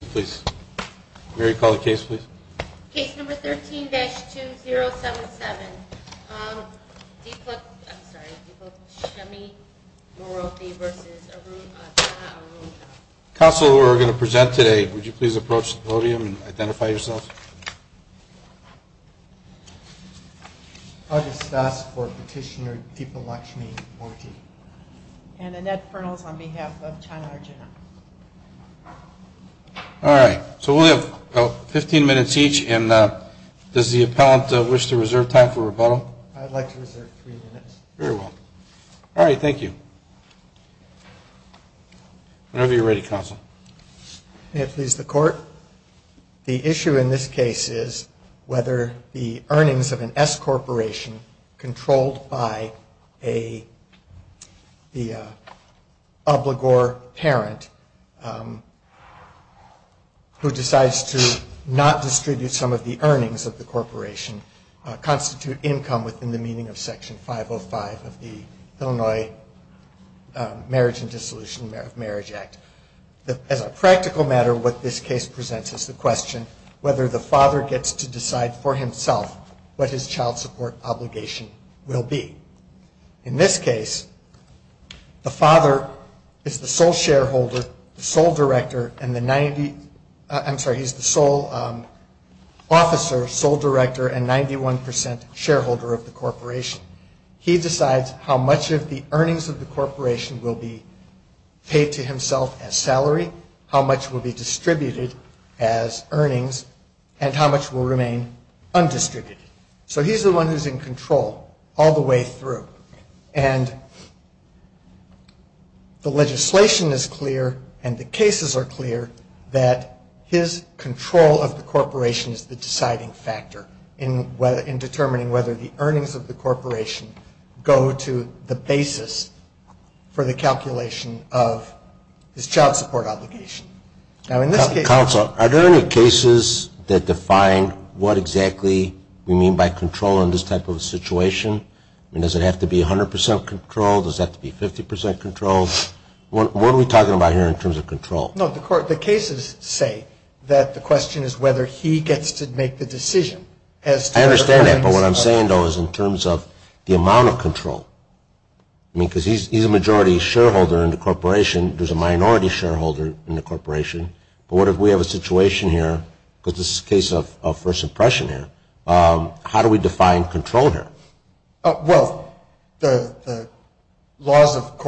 Please. Mary, call the case, please. Case number 13-2077. Deepalakshmi Moorthy v. Chhanna Arjuna. Counsel, we're going to present today. Would you please approach the podium and identify yourself? August Das for Petitioner Deepalakshmi Moorthy. And Annette Fernals on behalf of Chhanna Arjuna. All right. So we'll have about 15 minutes each. And does the appellant wish to reserve time for rebuttal? I'd like to reserve three minutes. Very well. All right. Thank you. Whenever you're ready, Counsel. May it please the Court. The issue in this case is whether the earnings of an S corporation controlled by the obligor parent who decides to not distribute some of the earnings of the corporation constitute income within the meaning of Section 505 of the Illinois Marriage and Dissolution of Marriage Act. As a practical matter, what this case presents is the question whether the father gets to decide for himself what his child support obligation will be. In this case, the father is the sole shareholder, the sole director, and the 90, I'm sorry, he's the sole officer, sole director, and 91% shareholder of the corporation. He decides how much of the earnings of the corporation will be paid to himself as salary, how much will be distributed as earnings, and how much will remain undistributed. So he's the one who's in control all the way through. And the legislation is clear and the cases are clear that his control of the corporation is the deciding factor in determining whether the earnings of the corporation go to the basis for the calculation of his child support obligation. Now, in this case... Counsel, are there any cases that define what exactly we mean by control in this type of a situation? I mean, does it have to be 100% control? Does it have to be 50% control? What are we talking about here in terms of control? No, the cases say that the question is whether he gets to make the decision I understand that, but what I'm saying, though, is in terms of the amount of control. I mean, because he's a majority shareholder in the corporation. There's a minority shareholder in the corporation. But what if we have a situation here, because this is a case of first impression here, how do we define control here? Well, the laws of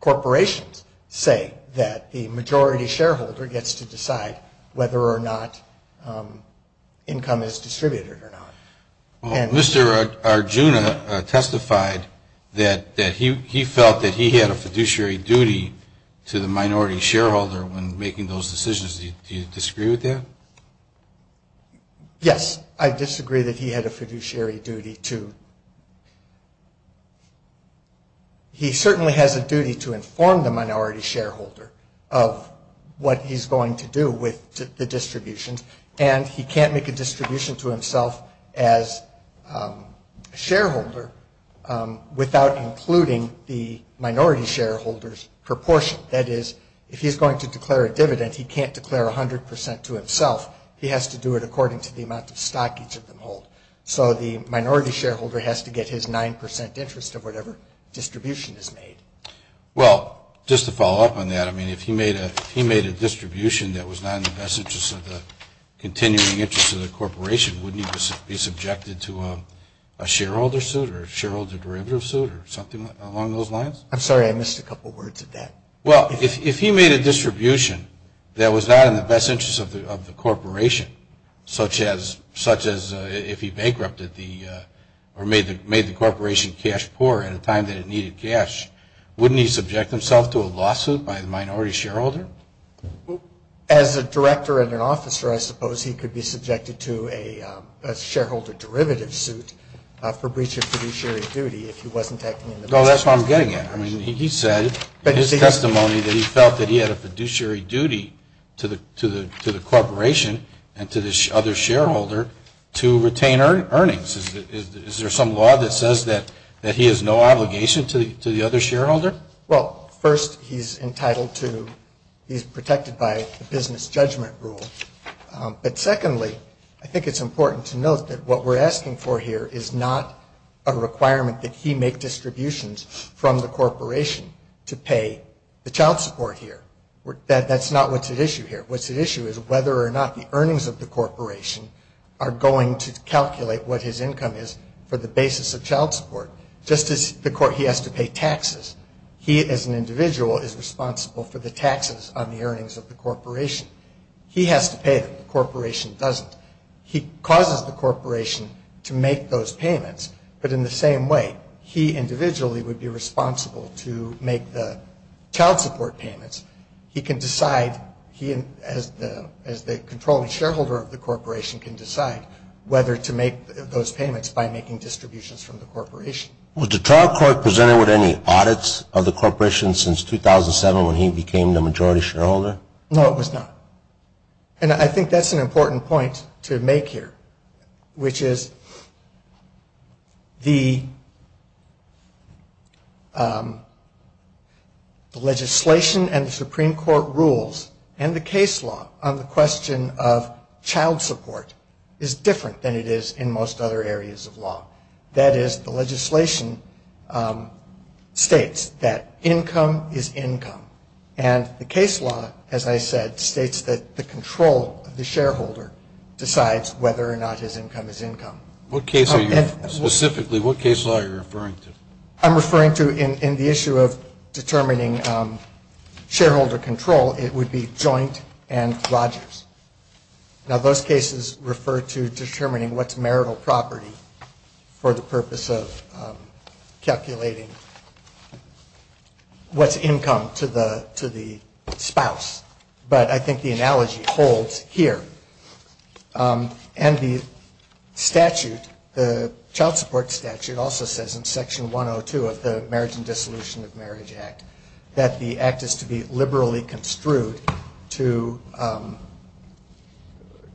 corporations say that the majority shareholder gets to decide whether or not income is distributed or not. Well, Mr. Arjuna testified that he felt that he had a fiduciary duty to the minority shareholder when making those decisions. Do you disagree with that? Yes, I disagree that he had a fiduciary duty to... He certainly has a duty to inform the minority shareholder of what he's going to do with the distributions. And he can't make a distribution to himself as a shareholder without including the minority shareholder's proportion. That is, if he's going to declare a dividend, he can't declare 100% to himself. He has to do it according to the amount of stock each of them hold. So the minority shareholder has to get his 9% interest of whatever distribution is made. Well, just to follow up on that, I mean, if he made a distribution that was not in the best interest of the continuing interest of the corporation, wouldn't he be subjected to a shareholder suit or a shareholder derivative suit or something along those lines? I'm sorry, I missed a couple words of that. Well, if he made a distribution that was not in the best interest of the corporation, such as if he bankrupted or made the corporation cash poor at a time that it needed cash, wouldn't he subject himself to a lawsuit by the minority shareholder? As a director and an officer, I suppose he could be subjected to a shareholder derivative suit for breach of fiduciary duty if he wasn't acting in the best interest of the corporation. No, that's what I'm getting at. I mean, he said in his testimony that he felt that he had a fiduciary duty to the corporation and to the other shareholder to retain earnings. Is there some law that says that he has no obligation to the other shareholder? Well, first, he's entitled to, he's protected by the business judgment rule. But secondly, I think it's important to note that what we're asking for here is not a requirement that he make distributions from the corporation to pay the child support here. That's not what's at issue here. What's at issue is whether or not the earnings of the corporation are going to calculate what his income is for the basis of child support. Just as he has to pay taxes, he as an individual is responsible for the taxes on the earnings of the corporation. He has to pay them. The corporation doesn't. He causes the corporation to make those payments. But in the same way, he individually would be responsible to make the child support payments. He can decide, he as the controlling shareholder of the corporation can decide whether to make those payments by making distributions from the corporation. Was the trial court presented with any audits of the corporation since 2007 when he became the majority shareholder? No, it was not. And I think that's an important point to make here, which is the legislation and the Supreme Court rules and the case law on the question of child support is different than it is in most other areas of law. That is, the legislation states that income is income. And the case law, as I said, states that the control of the shareholder decides whether or not his income is income. Specifically, what case law are you referring to? I'm referring to in the issue of determining shareholder control, it would be Joint and Rogers. Now, those cases refer to determining what's marital property for the purpose of calculating what's income to the spouse. But I think the analogy holds here. And the statute, the child support statute also says in Section 102 of the Marriage and Dissolution of Marriage Act that the act is to be liberally construed to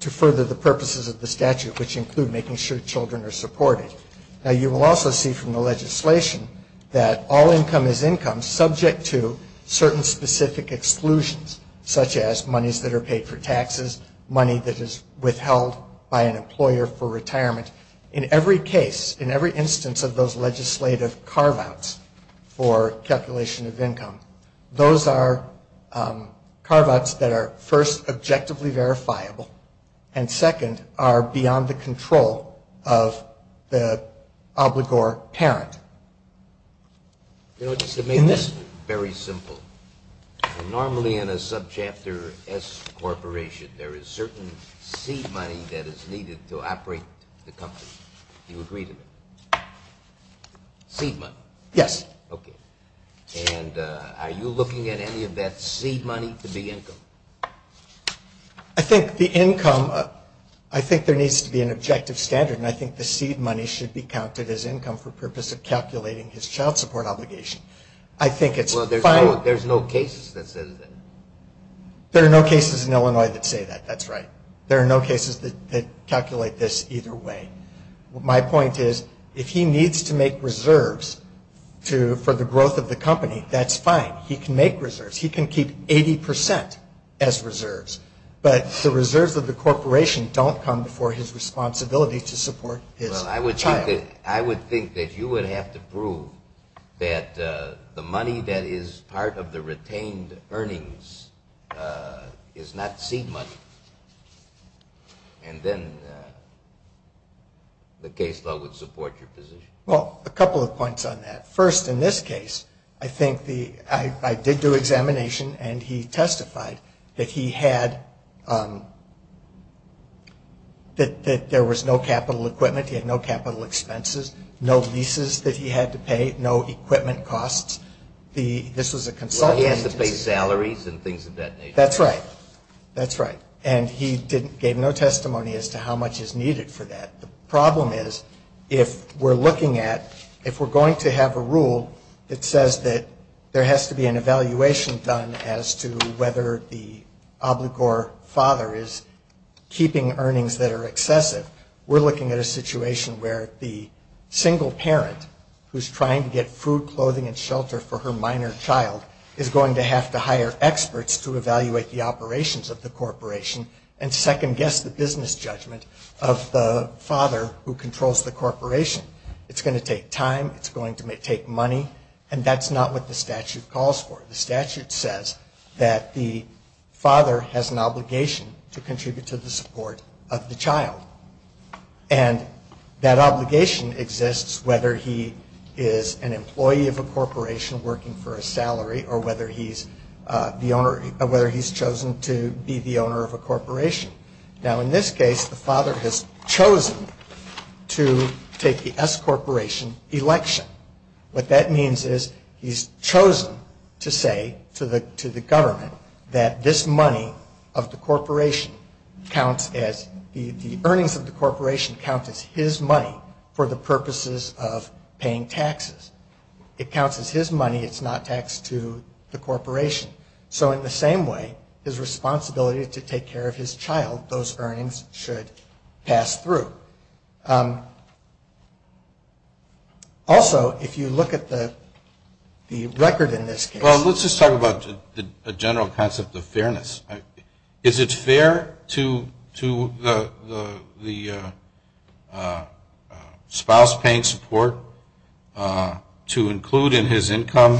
further the purposes of the statute, which include making sure children are supported. Now, you will also see from the legislation that all income is income subject to certain specific exclusions, such as monies that are paid for taxes, money that is withheld by an employer for retirement. In every case, in every instance of those legislative carve-outs for calculation of income, those are carve-outs that are, first, objectively verifiable, and, second, are beyond the control of the obligor parent. You know, just to make this very simple, normally in a subchapter S corporation, there is certain seed money that is needed to operate the company. Do you agree to that? Seed money? Yes. Okay. And are you looking at any of that seed money to be income? I think the income, I think there needs to be an objective standard, and I think the seed money should be counted as income for purpose of calculating his child support obligation. I think it's fine. Well, there's no cases that say that. There are no cases in Illinois that say that. That's right. There are no cases that calculate this either way. My point is, if he needs to make reserves for the growth of the company, that's fine. He can make reserves. He can keep 80% as reserves, but the reserves of the corporation don't come before his responsibility to support his child. I would think that you would have to prove that the money that is part of the retained earnings is not seed money, and then the case law would support your position. Well, a couple of points on that. First, in this case, I think the – I did do examination, and he testified that he had – that there was no capital equipment. He had no capital expenses, no leases that he had to pay, no equipment costs. This was a consultant. Well, he had to pay salaries and things of that nature. That's right. That's right. And he gave no testimony as to how much is needed for that. The problem is, if we're looking at – if we're going to have a rule that says that there has to be an evaluation done as to whether the obligor father is keeping earnings that are excessive, we're looking at a situation where the single parent, who's trying to get food, clothing, and shelter for her minor child, is going to have to hire experts to evaluate the operations of the corporation and second-guess the business judgment of the father who controls the corporation. It's going to take time. It's going to take money. And that's not what the statute calls for. The statute says that the father has an obligation to contribute to the support of the child. And that obligation exists whether he is an employee of a corporation working for a salary or whether he's chosen to be the owner of a corporation. Now, in this case, the father has chosen to take the S corporation election. What that means is he's chosen to say to the government that this money of the corporation counts as – the earnings of the corporation count as his money for the purposes of paying taxes. It counts as his money. It's not taxed to the corporation. So in the same way, his responsibility is to take care of his child. Those earnings should pass through. Also, if you look at the record in this case. Well, let's just talk about the general concept of fairness. Is it fair to the spouse paying support to include in his income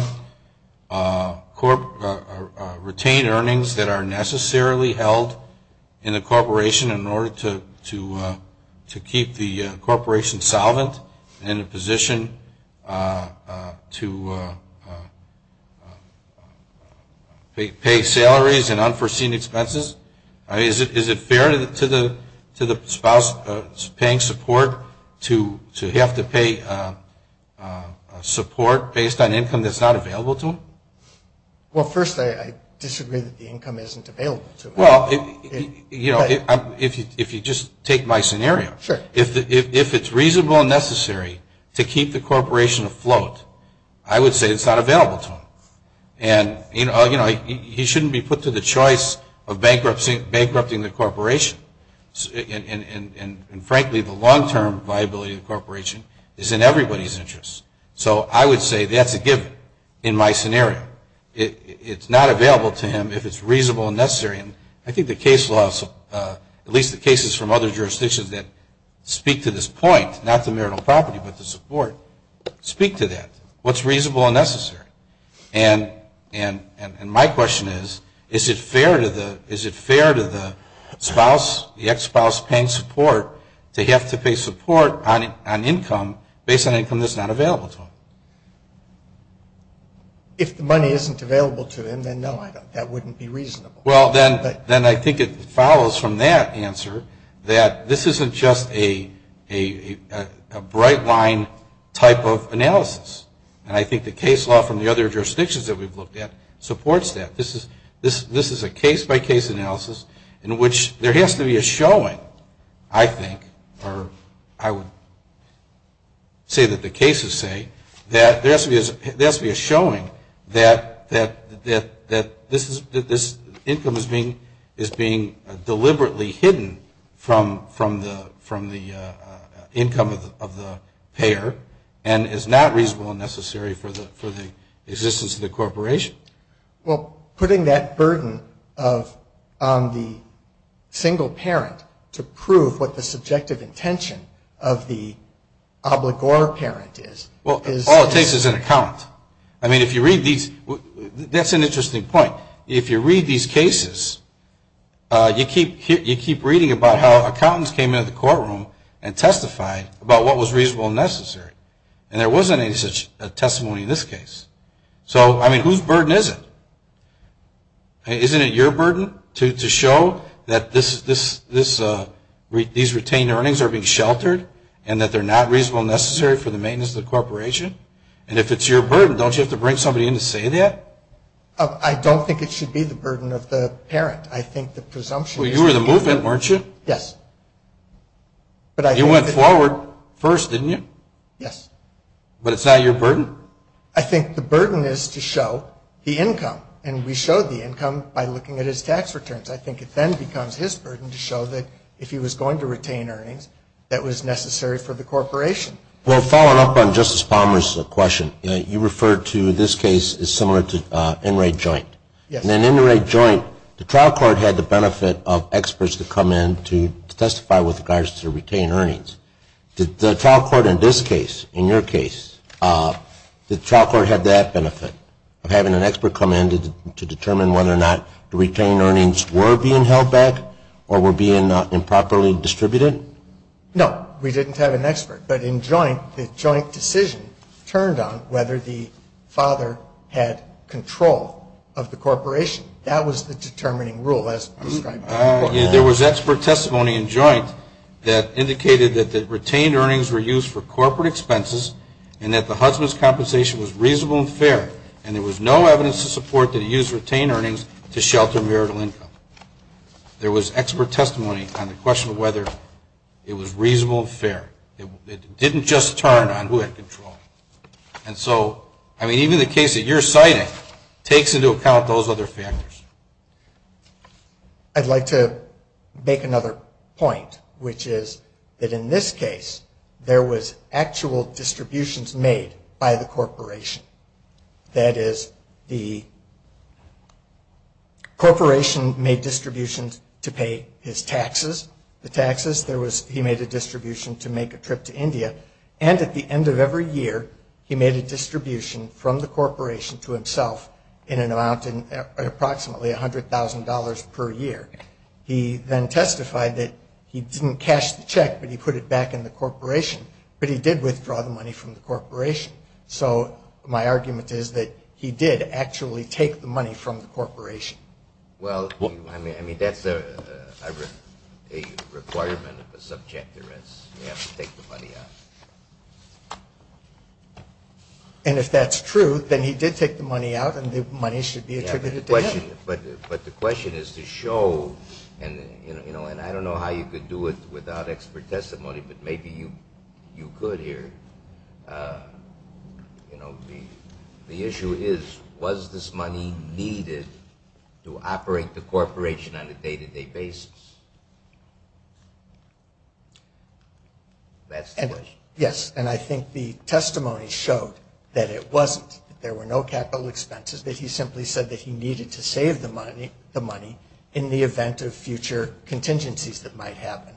retained earnings that are necessarily held in the corporation in order to keep the corporation solvent in a position to pay salaries and unforeseen expenses? Is it fair to the spouse paying support to have to pay support based on income that's not available to him? Well, first, I disagree that the income isn't available to him. Well, you know, if you just take my scenario. Sure. If it's reasonable and necessary to keep the corporation afloat, I would say it's not available to him. And, you know, he shouldn't be put to the choice of bankrupting the corporation. And frankly, the long-term viability of the corporation is in everybody's interest. So I would say that's a given in my scenario. It's not available to him if it's reasonable and necessary. And I think the case laws, at least the cases from other jurisdictions that speak to this point, not the marital property but the support, speak to that, what's reasonable and necessary. And my question is, is it fair to the spouse, the ex-spouse paying support, to have to pay support on income based on income that's not available to him? If the money isn't available to him, then no, that wouldn't be reasonable. Well, then I think it follows from that answer that this isn't just a bright line type of analysis. And I think the case law from the other jurisdictions that we've looked at supports that. This is a case-by-case analysis in which there has to be a showing, I think, or I would say that the cases say that there has to be a showing that this income is being deliberately hidden from the income of the payer and is not reasonable and necessary for the existence of the corporation. Well, putting that burden on the single parent to prove what the subjective intention of the obligor parent is. Well, all it takes is an account. I mean, if you read these, that's an interesting point. If you read these cases, you keep reading about how accountants came into the courtroom and testified about what was reasonable and necessary. And there wasn't any such testimony in this case. So, I mean, whose burden is it? Isn't it your burden to show that these retained earnings are being sheltered and that they're not reasonable and necessary for the maintenance of the corporation? And if it's your burden, don't you have to bring somebody in to say that? I don't think it should be the burden of the parent. I think the presumption is the parent. Well, you were the movement, weren't you? Yes. You went forward first, didn't you? Yes. But it's not your burden? I think the burden is to show the income. And we showed the income by looking at his tax returns. I think it then becomes his burden to show that if he was going to retain earnings, that was necessary for the corporation. Well, following up on Justice Palmer's question, you referred to this case as similar to in-rate joint. Yes. In an in-rate joint, the trial court had the benefit of experts to come in to testify with regards to retained earnings. Did the trial court in this case, in your case, did the trial court have that benefit, of having an expert come in to determine whether or not the retained earnings were being held back or were being improperly distributed? No. We didn't have an expert. But in joint, the joint decision turned on whether the father had control of the corporation. That was the determining rule as described by the court. There was expert testimony in joint that indicated that retained earnings were used for corporate expenses and that the husband's compensation was reasonable and fair, and there was no evidence to support that he used retained earnings to shelter marital income. There was expert testimony on the question of whether it was reasonable and fair. It didn't just turn on who had control. And so, I mean, even the case that you're citing takes into account those other factors. I'd like to make another point, which is that in this case, there was actual distributions made by the corporation. That is, the corporation made distributions to pay his taxes. He made a distribution to make a trip to India. And at the end of every year, he made a distribution from the corporation to himself in an amount of approximately $100,000 per year. He then testified that he didn't cash the check, but he put it back in the corporation. But he did withdraw the money from the corporation. So my argument is that he did actually take the money from the corporation. Well, I mean, that's a requirement of a subject arrest. You have to take the money out. And if that's true, then he did take the money out, and the money should be attributed to him. But the question is to show, and I don't know how you could do it without expert testimony, but maybe you could here. You know, the issue is, was this money needed to operate the corporation on a day-to-day basis? That's the question. Yes, and I think the testimony showed that it wasn't. There were no capital expenses, that he simply said that he needed to save the money in the event of future contingencies that might happen.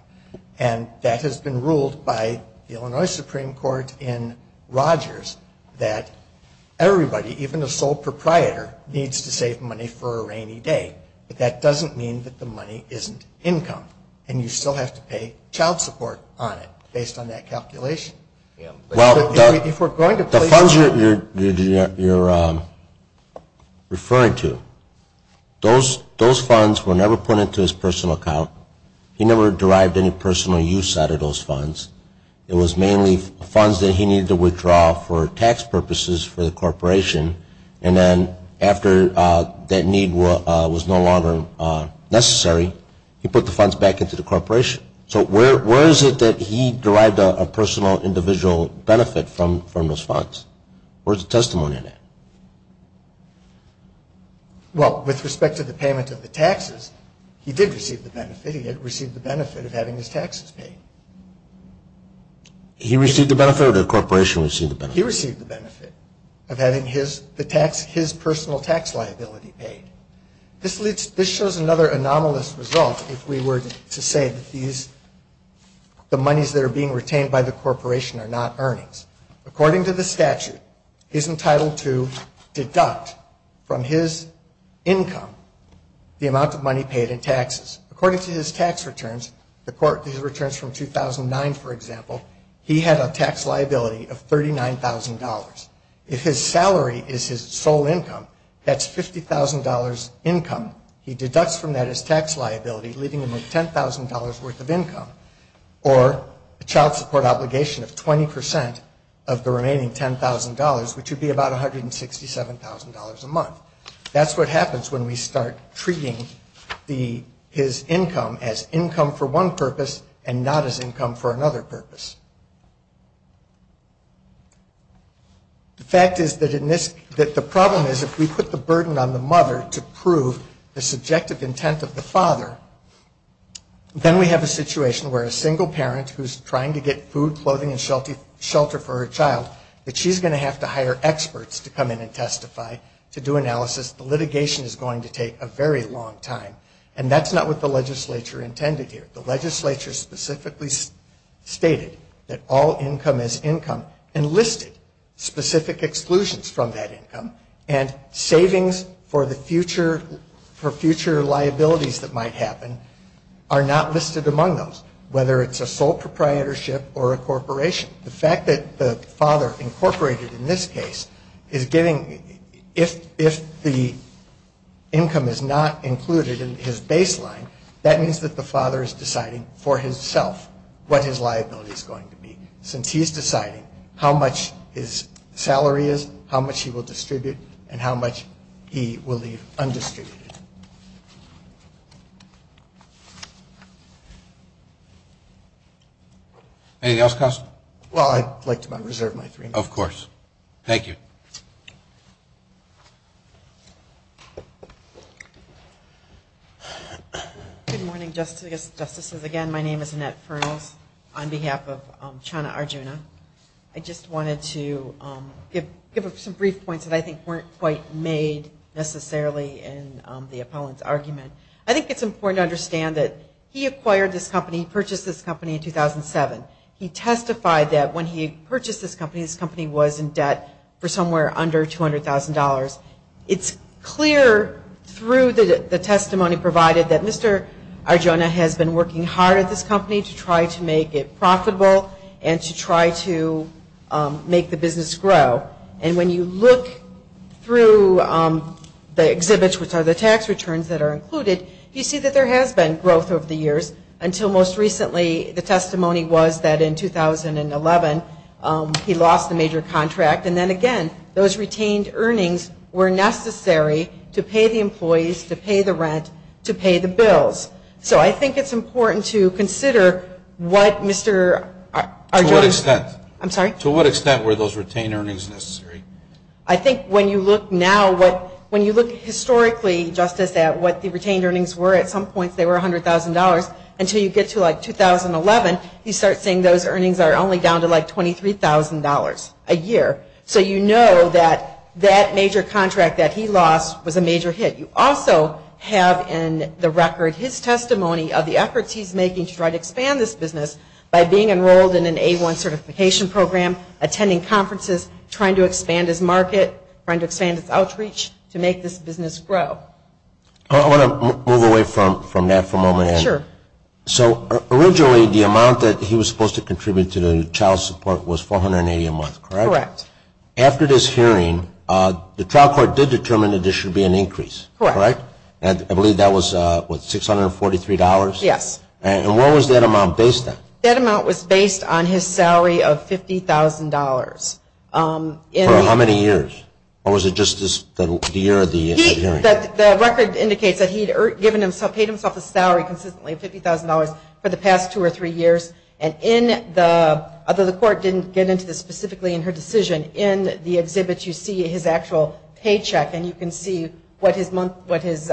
And that has been ruled by the Illinois Supreme Court in Rogers that everybody, even a sole proprietor, needs to save money for a rainy day. But that doesn't mean that the money isn't income, and you still have to pay child support on it based on that calculation. Well, the funds you're referring to, those funds were never put into his personal account. He never derived any personal use out of those funds. It was mainly funds that he needed to withdraw for tax purposes for the corporation, and then after that need was no longer necessary, he put the funds back into the corporation. So where is it that he derived a personal individual benefit from those funds? Where's the testimony on that? Well, with respect to the payment of the taxes, he did receive the benefit. He had received the benefit of having his taxes paid. He received the benefit or the corporation received the benefit? He received the benefit of having his personal tax liability paid. This shows another anomalous result if we were to say that these, the monies that are being retained by the corporation are not earnings. According to the statute, he's entitled to deduct from his income the amount of money paid in taxes. According to his tax returns, his returns from 2009, for example, he had a tax liability of $39,000. If his salary is his sole income, that's $50,000 income. He deducts from that his tax liability, leaving him with $10,000 worth of income or a child support obligation of 20% of the remaining $10,000, which would be about $167,000 a month. That's what happens when we start treating his income as income for one purpose and not as income for another purpose. The fact is that the problem is if we put the burden on the mother to prove the subjective intent of the father, then we have a situation where a single parent who's trying to get food, clothing, and shelter for her child, that she's going to have to hire experts to come in and testify to do analysis. The litigation is going to take a very long time. And that's not what the legislature intended here. The legislature specifically stated that all income is income and listed specific exclusions from that income and savings for future liabilities that might happen are not listed among those, whether it's a sole proprietorship or a corporation. The fact that the father incorporated in this case is giving, if the income is not included in his baseline, that means that the father is deciding for himself what his liability is going to be. Since he's deciding how much his salary is, how much he will distribute, and how much he will leave undistributed. Anything else, Counselor? Well, I'd like to reserve my three minutes. Of course. Thank you. Good morning, Justices. Again, my name is Annette Fernals on behalf of Chana Arjuna. I just wanted to give some brief points that I think weren't quite made necessarily in the appellant's argument. I think it's important to understand that he acquired this company, purchased this company in 2007. He testified that when he purchased this company, this company was in debt for somewhere under $200,000. It's clear through the testimony provided that Mr. Arjuna has been working hard at this company to try to make it profitable and to try to make the business grow. And when you look through the exhibits, which are the tax returns that are included, you see that there has been growth over the years, until most recently the testimony was that in 2011 he lost a major contract. And then again, those retained earnings were necessary to pay the employees, to pay the rent, to pay the bills. So I think it's important to consider what Mr. Arjuna To what extent? I'm sorry? To what extent were those retained earnings necessary? I think when you look now, when you look historically, Justice, at what the retained earnings were, at some points they were $100,000. Until you get to like 2011, you start seeing those earnings are only down to like $23,000 a year. So you know that that major contract that he lost was a major hit. You also have in the record his testimony of the efforts he's making to try to expand this business by being enrolled in an A1 certification program, attending conferences, trying to expand his market, trying to expand his outreach to make this business grow. I want to move away from that for a moment. Sure. So originally the amount that he was supposed to contribute to the child support was $480 a month, correct? Correct. After this hearing, the trial court did determine that there should be an increase, correct? Correct. And I believe that was what, $643? Yes. And what was that amount based on? That amount was based on his salary of $50,000. For how many years? Or was it just the year of the hearing? The record indicates that he paid himself a salary consistently of $50,000 for the past two or three years. And in the, although the court didn't get into this specifically in her decision, in the exhibit you see his actual paycheck and you can see what his monthly, what his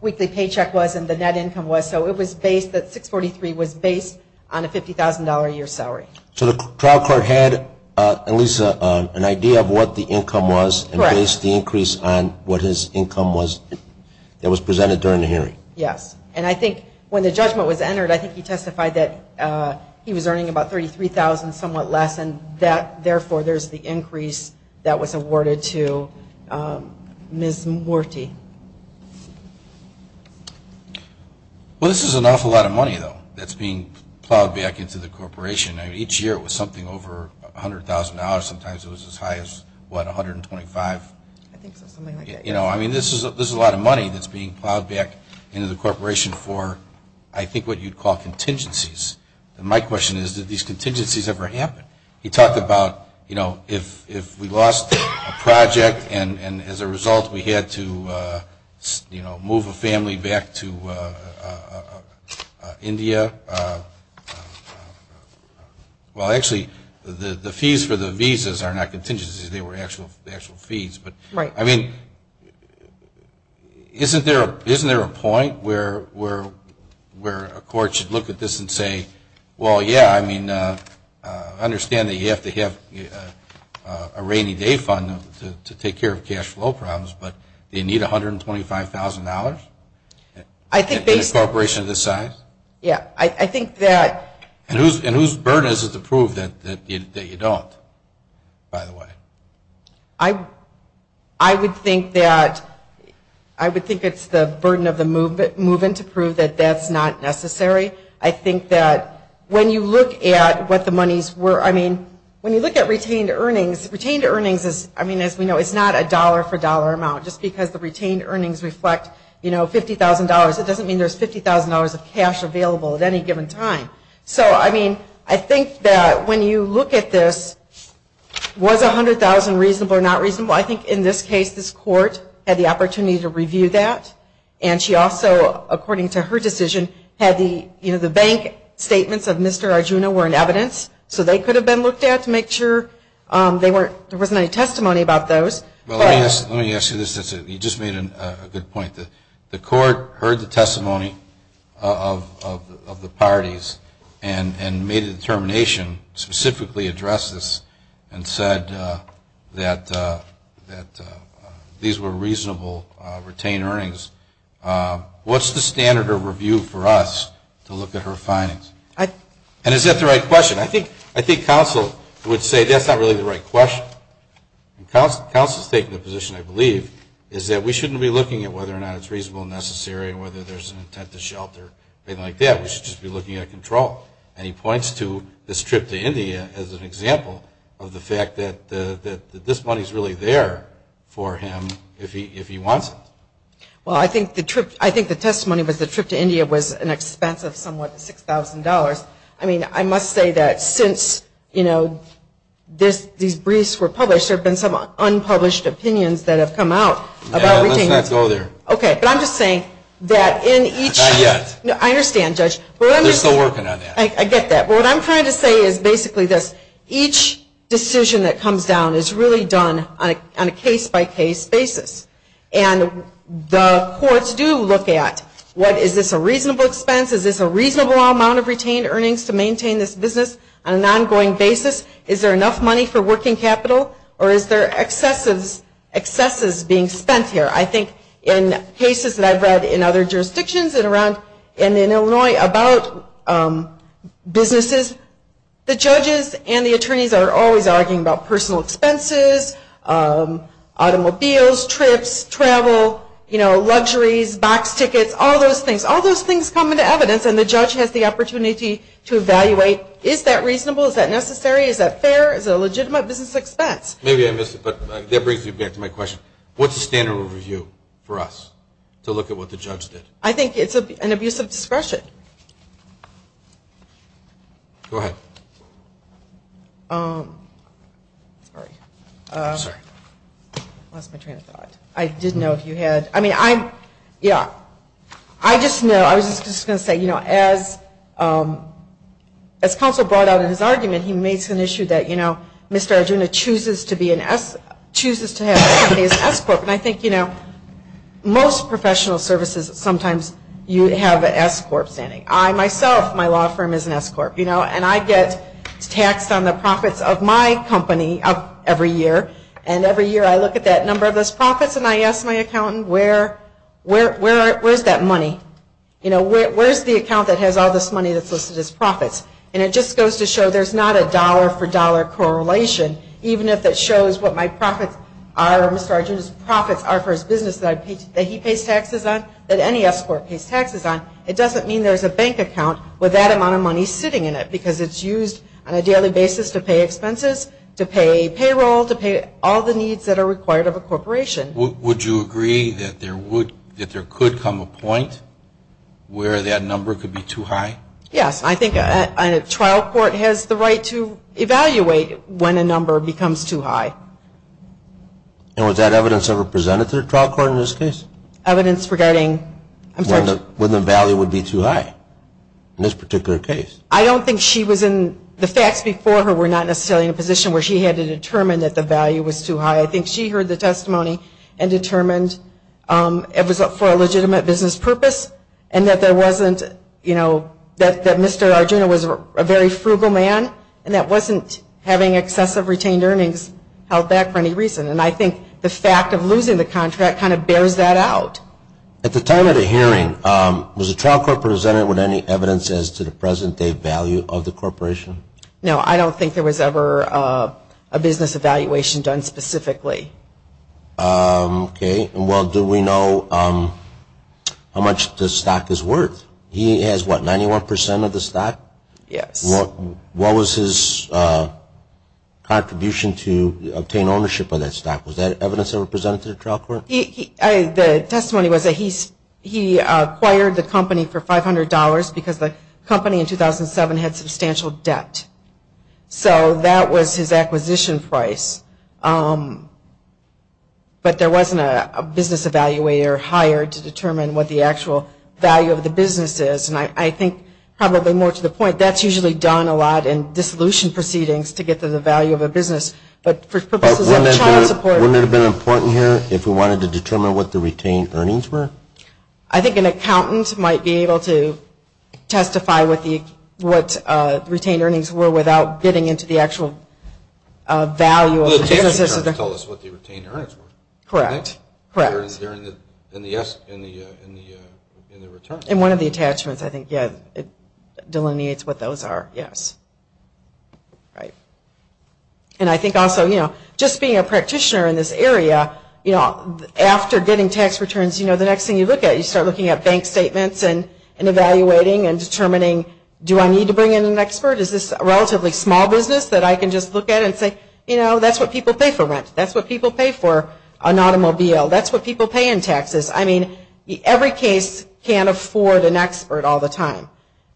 weekly paycheck was and the net income was. So it was based, that $643 was based on a $50,000 a year salary. So the trial court had at least an idea of what the income was and based the increase on what his income was that was presented during the hearing? Yes. And I think when the judgment was entered, I think he testified that he was earning about $33,000, somewhat less, and therefore there's the increase that was awarded to Ms. Morty. Well, this is an awful lot of money, though, that's being plowed back into the corporation. Each year it was something over $100,000. Sometimes it was as high as, what, $125,000? I think so, something like that, yes. You know, I mean, this is a lot of money that's being plowed back into the corporation for, I think what you'd call contingencies. And my question is, did these contingencies ever happen? He talked about, you know, if we lost a project and as a result we had to, you know, move a family back to India. Well, actually, the fees for the visas are not contingencies. They were actual fees. Right. I mean, isn't there a point where a court should look at this and say, well, yeah, I mean, I understand that you have to have a rainy day fund to take care of cash flow problems, but they need $125,000 in a corporation of this size? Yeah. I think that. And whose burden is it to prove that you don't, by the way? I would think that it's the burden of the movement to prove that that's not necessary. I think that when you look at what the monies were, I mean, when you look at retained earnings, retained earnings is, I mean, as we know, it's not a dollar for dollar amount. Just because the retained earnings reflect, you know, $50,000, it doesn't mean there's $50,000 of cash available at any given time. So, I mean, I think that when you look at this, was $100,000 reasonable or not reasonable? I think in this case, this court had the opportunity to review that, and she also, according to her decision, had the, you know, the bank statements of Mr. Arjuna were in evidence, so they could have been looked at to make sure there wasn't any testimony about those. Let me ask you this. You just made a good point. The court heard the testimony of the parties and made a determination to specifically address this and said that these were reasonable retained earnings. What's the standard of review for us to look at her findings? And is that the right question? I think counsel would say that's not really the right question. Counsel has taken the position, I believe, is that we shouldn't be looking at whether or not it's reasonable and necessary or whether there's an intent to shelter or anything like that. We should just be looking at control. And he points to this trip to India as an example of the fact that this money is really there for him if he wants it. Well, I think the testimony was the trip to India was an expense of somewhat $6,000. I must say that since these briefs were published, there have been some unpublished opinions that have come out about retained earnings. Yeah, let's not go there. Okay, but I'm just saying that in each... Not yet. I understand, Judge. They're still working on that. I get that. But what I'm trying to say is basically this. Each decision that comes down is really done on a case-by-case basis. And the courts do look at, what, is this a reasonable expense? Is this a reasonable amount of retained earnings to maintain this business on an ongoing basis? Is there enough money for working capital? Or is there excesses being spent here? I think in cases that I've read in other jurisdictions and in Illinois about businesses, the judges and the attorneys are always arguing about personal expenses, automobiles, trips, travel, luxuries, box tickets, all those things. All those things come into evidence, and the judge has the opportunity to evaluate, is that reasonable? Is that necessary? Is that fair? Is it a legitimate business expense? Maybe I missed it, but that brings me back to my question. What's the standard review for us to look at what the judge did? I think it's an abuse of discretion. Go ahead. Sorry. I'm sorry. Lost my train of thought. I did know if you had. I mean, I'm, yeah. I just know, I was just going to say, you know, as counsel brought out in his argument, he made some issue that, you know, Mr. Arjuna chooses to be an S, chooses to have his company as S Corp. And I think, you know, most professional services sometimes you have an S Corp. standing. I myself, my law firm is an S Corp., you know, and I get taxed on the profits of my company every year. And every year I look at that number of those profits and I ask my accountant, where's that money? You know, where's the account that has all this money that's listed as profits? And it just goes to show there's not a dollar-for-dollar correlation, even if it shows what my profits are or Mr. Arjuna's profits are for his business that he pays taxes on, that any S Corp. pays taxes on. It doesn't mean there's a bank account with that amount of money sitting in it, because it's used on a daily basis to pay expenses, to pay payroll, to pay all the needs that are required of a corporation. Would you agree that there could come a point where that number could be too high? Yes. I think a trial court has the right to evaluate when a number becomes too high. And was that evidence ever presented to the trial court in this case? Evidence regarding? When the value would be too high in this particular case. I don't think she was in, the facts before her were not necessarily in a position where she had to determine that the value was too high. I think she heard the testimony and determined it was for a legitimate business purpose and that there wasn't, you know, that Mr. Arjuna was a very frugal man and that wasn't having excessive retained earnings held back for any reason. And I think the fact of losing the contract kind of bears that out. At the time of the hearing, was the trial court presented with any evidence as to the present-day value of the corporation? No, I don't think there was ever a business evaluation done specifically. Okay. Well, do we know how much the stock is worth? He has, what, 91% of the stock? Yes. What was his contribution to obtain ownership of that stock? Was that evidence ever presented to the trial court? The testimony was that he acquired the company for $500 because the company in 2007 had substantial debt. So that was his acquisition price. But there wasn't a business evaluator hired to determine what the actual value of the business is. And I think probably more to the point, that's usually done a lot in dissolution proceedings to get to the value of a business. Wouldn't it have been important here if we wanted to determine what the retained earnings were? I think an accountant might be able to testify what retained earnings were without getting into the actual value of the business. Well, the attachments tell us what the retained earnings were. Correct. Correct. They're in the returns. And one of the attachments, I think, yeah, it delineates what those are, yes. Right. And I think also, you know, just being a practitioner in this area, you know, after getting tax returns, you know, the next thing you look at, you start looking at bank statements and evaluating and determining, do I need to bring in an expert? Is this a relatively small business that I can just look at and say, you know, that's what people pay for rent. That's what people pay for an automobile. That's what people pay in taxes. I mean, every case can't afford an expert all the time.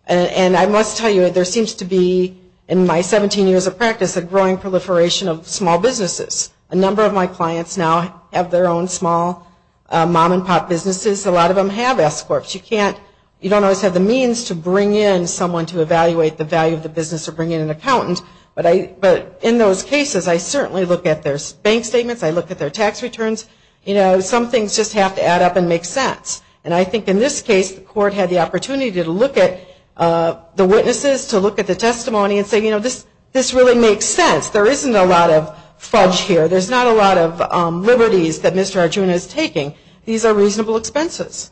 And I must tell you, there seems to be, in my 17 years of practice, a growing proliferation of small businesses. A number of my clients now have their own small mom-and-pop businesses. A lot of them have escorts. You don't always have the means to bring in someone to evaluate the value of the business or bring in an accountant. But in those cases, I certainly look at their bank statements. I look at their tax returns. You know, some things just have to add up and make sense. And I think in this case, the court had the opportunity to look at the witnesses, to look at the testimony and say, you know, this really makes sense. There isn't a lot of fudge here. There's not a lot of liberties that Mr. Arjuna is taking. These are reasonable expenses.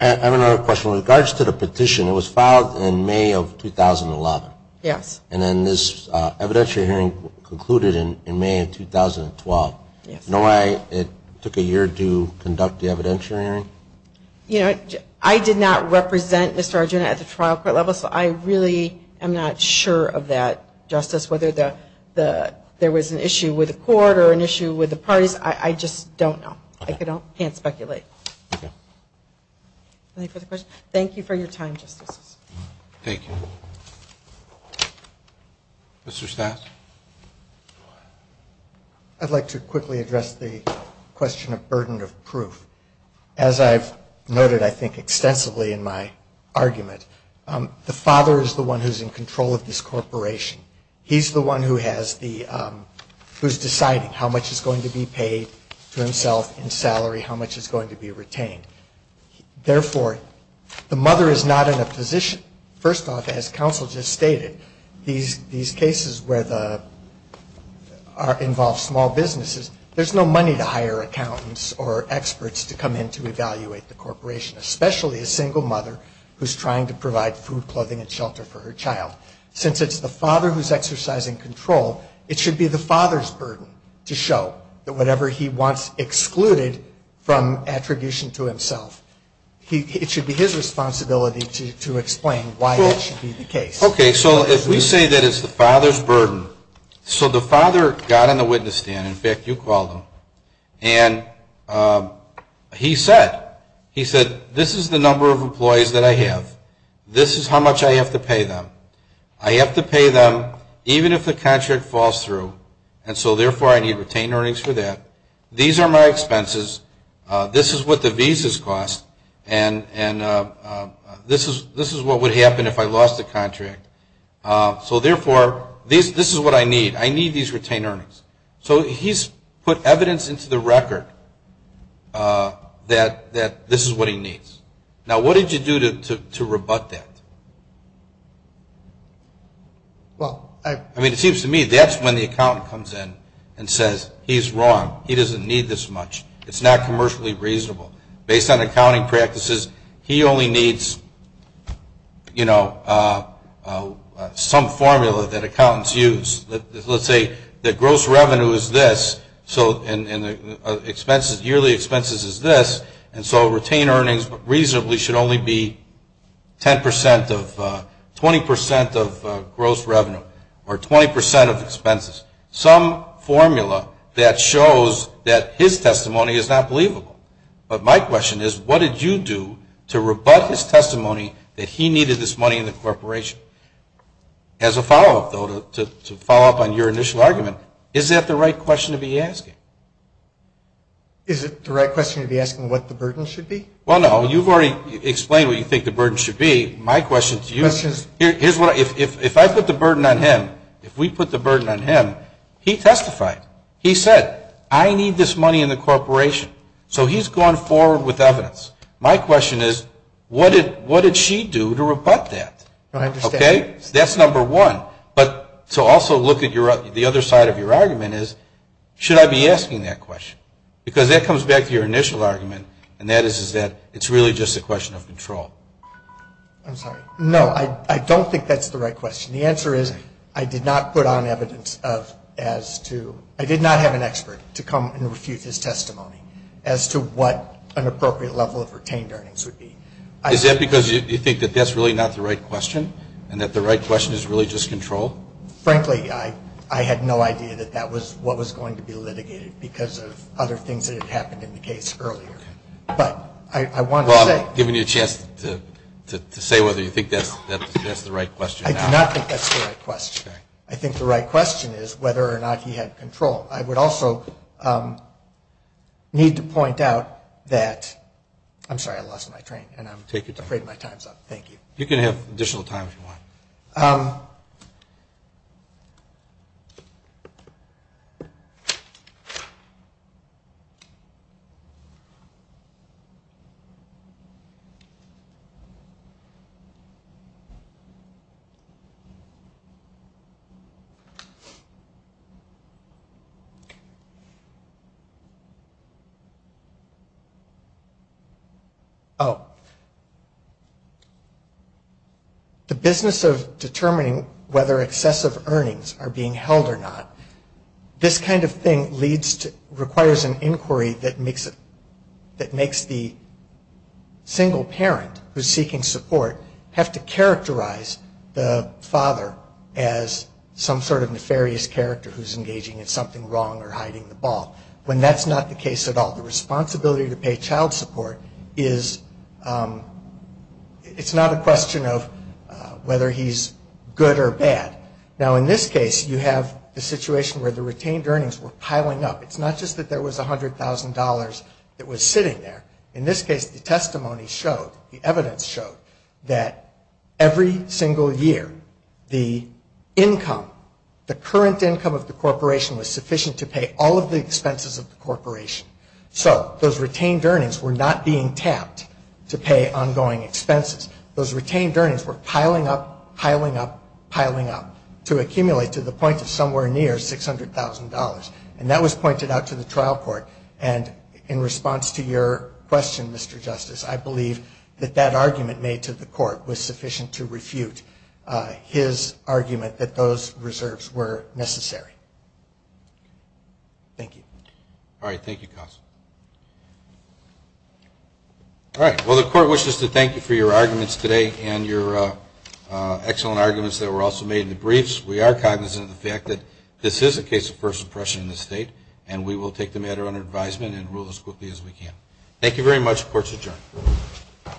I have another question. With regards to the petition, it was filed in May of 2011. Yes. And then this evidentiary hearing concluded in May of 2012. Yes. Do you know why it took a year to conduct the evidentiary hearing? You know, I did not represent Mr. Arjuna at the trial court level, so I really am not sure of that, Justice, whether there was an issue with the court or an issue with the parties. I just don't know. I can't speculate. Okay. Any further questions? Thank you for your time, Justices. Thank you. Mr. Stass? I'd like to quickly address the question of burden of proof. As I've noted, I think, extensively in my argument, the father is the one who's in control of this corporation. He's the one who has the ñ who's deciding how much is going to be paid to himself in salary, how much is going to be retained. Therefore, the mother is not in a position, first off, as counsel just stated, these cases where the ñ involve small businesses, there's no money to hire accountants or experts to come in to evaluate the corporation, especially a single mother who's trying to provide food, clothing, and shelter for her child. Since it's the father who's exercising control, it should be the father's burden to show that whatever he wants excluded from attribution to himself. It should be his responsibility to explain why that should be the case. Okay. So if we say that it's the father's burden, so the father got on the witness stand, in fact, you called him, and he said, he said this is the number of employees that I have. This is how much I have to pay them. I have to pay them even if the contract falls through, and so therefore I need retained earnings for that. These are my expenses. This is what the visas cost, and this is what would happen if I lost the contract. So therefore, this is what I need. I need these retained earnings. So he's put evidence into the record that this is what he needs. Now, what did you do to rebut that? I mean, it seems to me that's when the accountant comes in and says, he's wrong. He doesn't need this much. It's not commercially reasonable. Based on accounting practices, he only needs, you know, some formula that accountants use. Let's say that gross revenue is this, and yearly expenses is this, and so retained earnings reasonably should only be 10% of, 20% of gross revenue or 20% of expenses. Some formula that shows that his testimony is not believable. But my question is, what did you do to rebut his testimony that he needed this money in the corporation? As a follow-up, though, to follow up on your initial argument, is that the right question to be asking? Is it the right question to be asking what the burden should be? Well, no. You've already explained what you think the burden should be. My question to you is, if I put the burden on him, if we put the burden on him, he testified. He said, I need this money in the corporation. So he's gone forward with evidence. My question is, what did she do to rebut that? Okay? That's number one. But to also look at the other side of your argument is, should I be asking that question? Because that comes back to your initial argument, and that is that it's really just a question of control. I'm sorry. No, I don't think that's the right question. The answer is, I did not put on evidence of as to, I did not have an expert to come and refute his testimony as to what an appropriate level of retained earnings would be. Is that because you think that that's really not the right question, and that the right question is really just control? Frankly, I had no idea that that was what was going to be litigated because of other things that had happened in the case earlier. But I want to say. Well, I'm giving you a chance to say whether you think that's the right question or not. I do not think that's the right question. Okay. I think the right question is whether or not he had control. I would also need to point out that. I'm sorry. I lost my train, and I'm afraid my time's up. Thank you. You can have additional time if you want. Okay. Thank you. This kind of thing requires an inquiry that makes the single parent who's seeking support have to characterize the father as some sort of nefarious character who's engaging in something wrong or hiding the ball, when that's not the case at all. The responsibility to pay child support is, it's not a question of whether he's good or bad. Now, in this case, you have the situation where the retained earnings were piling up. It's not just that there was $100,000 that was sitting there. In this case, the testimony showed, the evidence showed, that every single year the income, the current income of the corporation was sufficient to pay all of the expenses of the corporation. So those retained earnings were not being tapped to pay ongoing expenses. Those retained earnings were piling up, piling up, piling up, to accumulate to the point of somewhere near $600,000. And that was pointed out to the trial court. And in response to your question, Mr. Justice, I believe that that argument made to the court was sufficient to refute his argument that those reserves were necessary. Thank you. All right. Thank you, counsel. All right. Well, the court wishes to thank you for your arguments today and your excellent arguments that were also made in the briefs. We are cognizant of the fact that this is a case of first impression in the state, and we will take the matter under advisement and rule as quickly as we can. Thank you very much. Court is adjourned.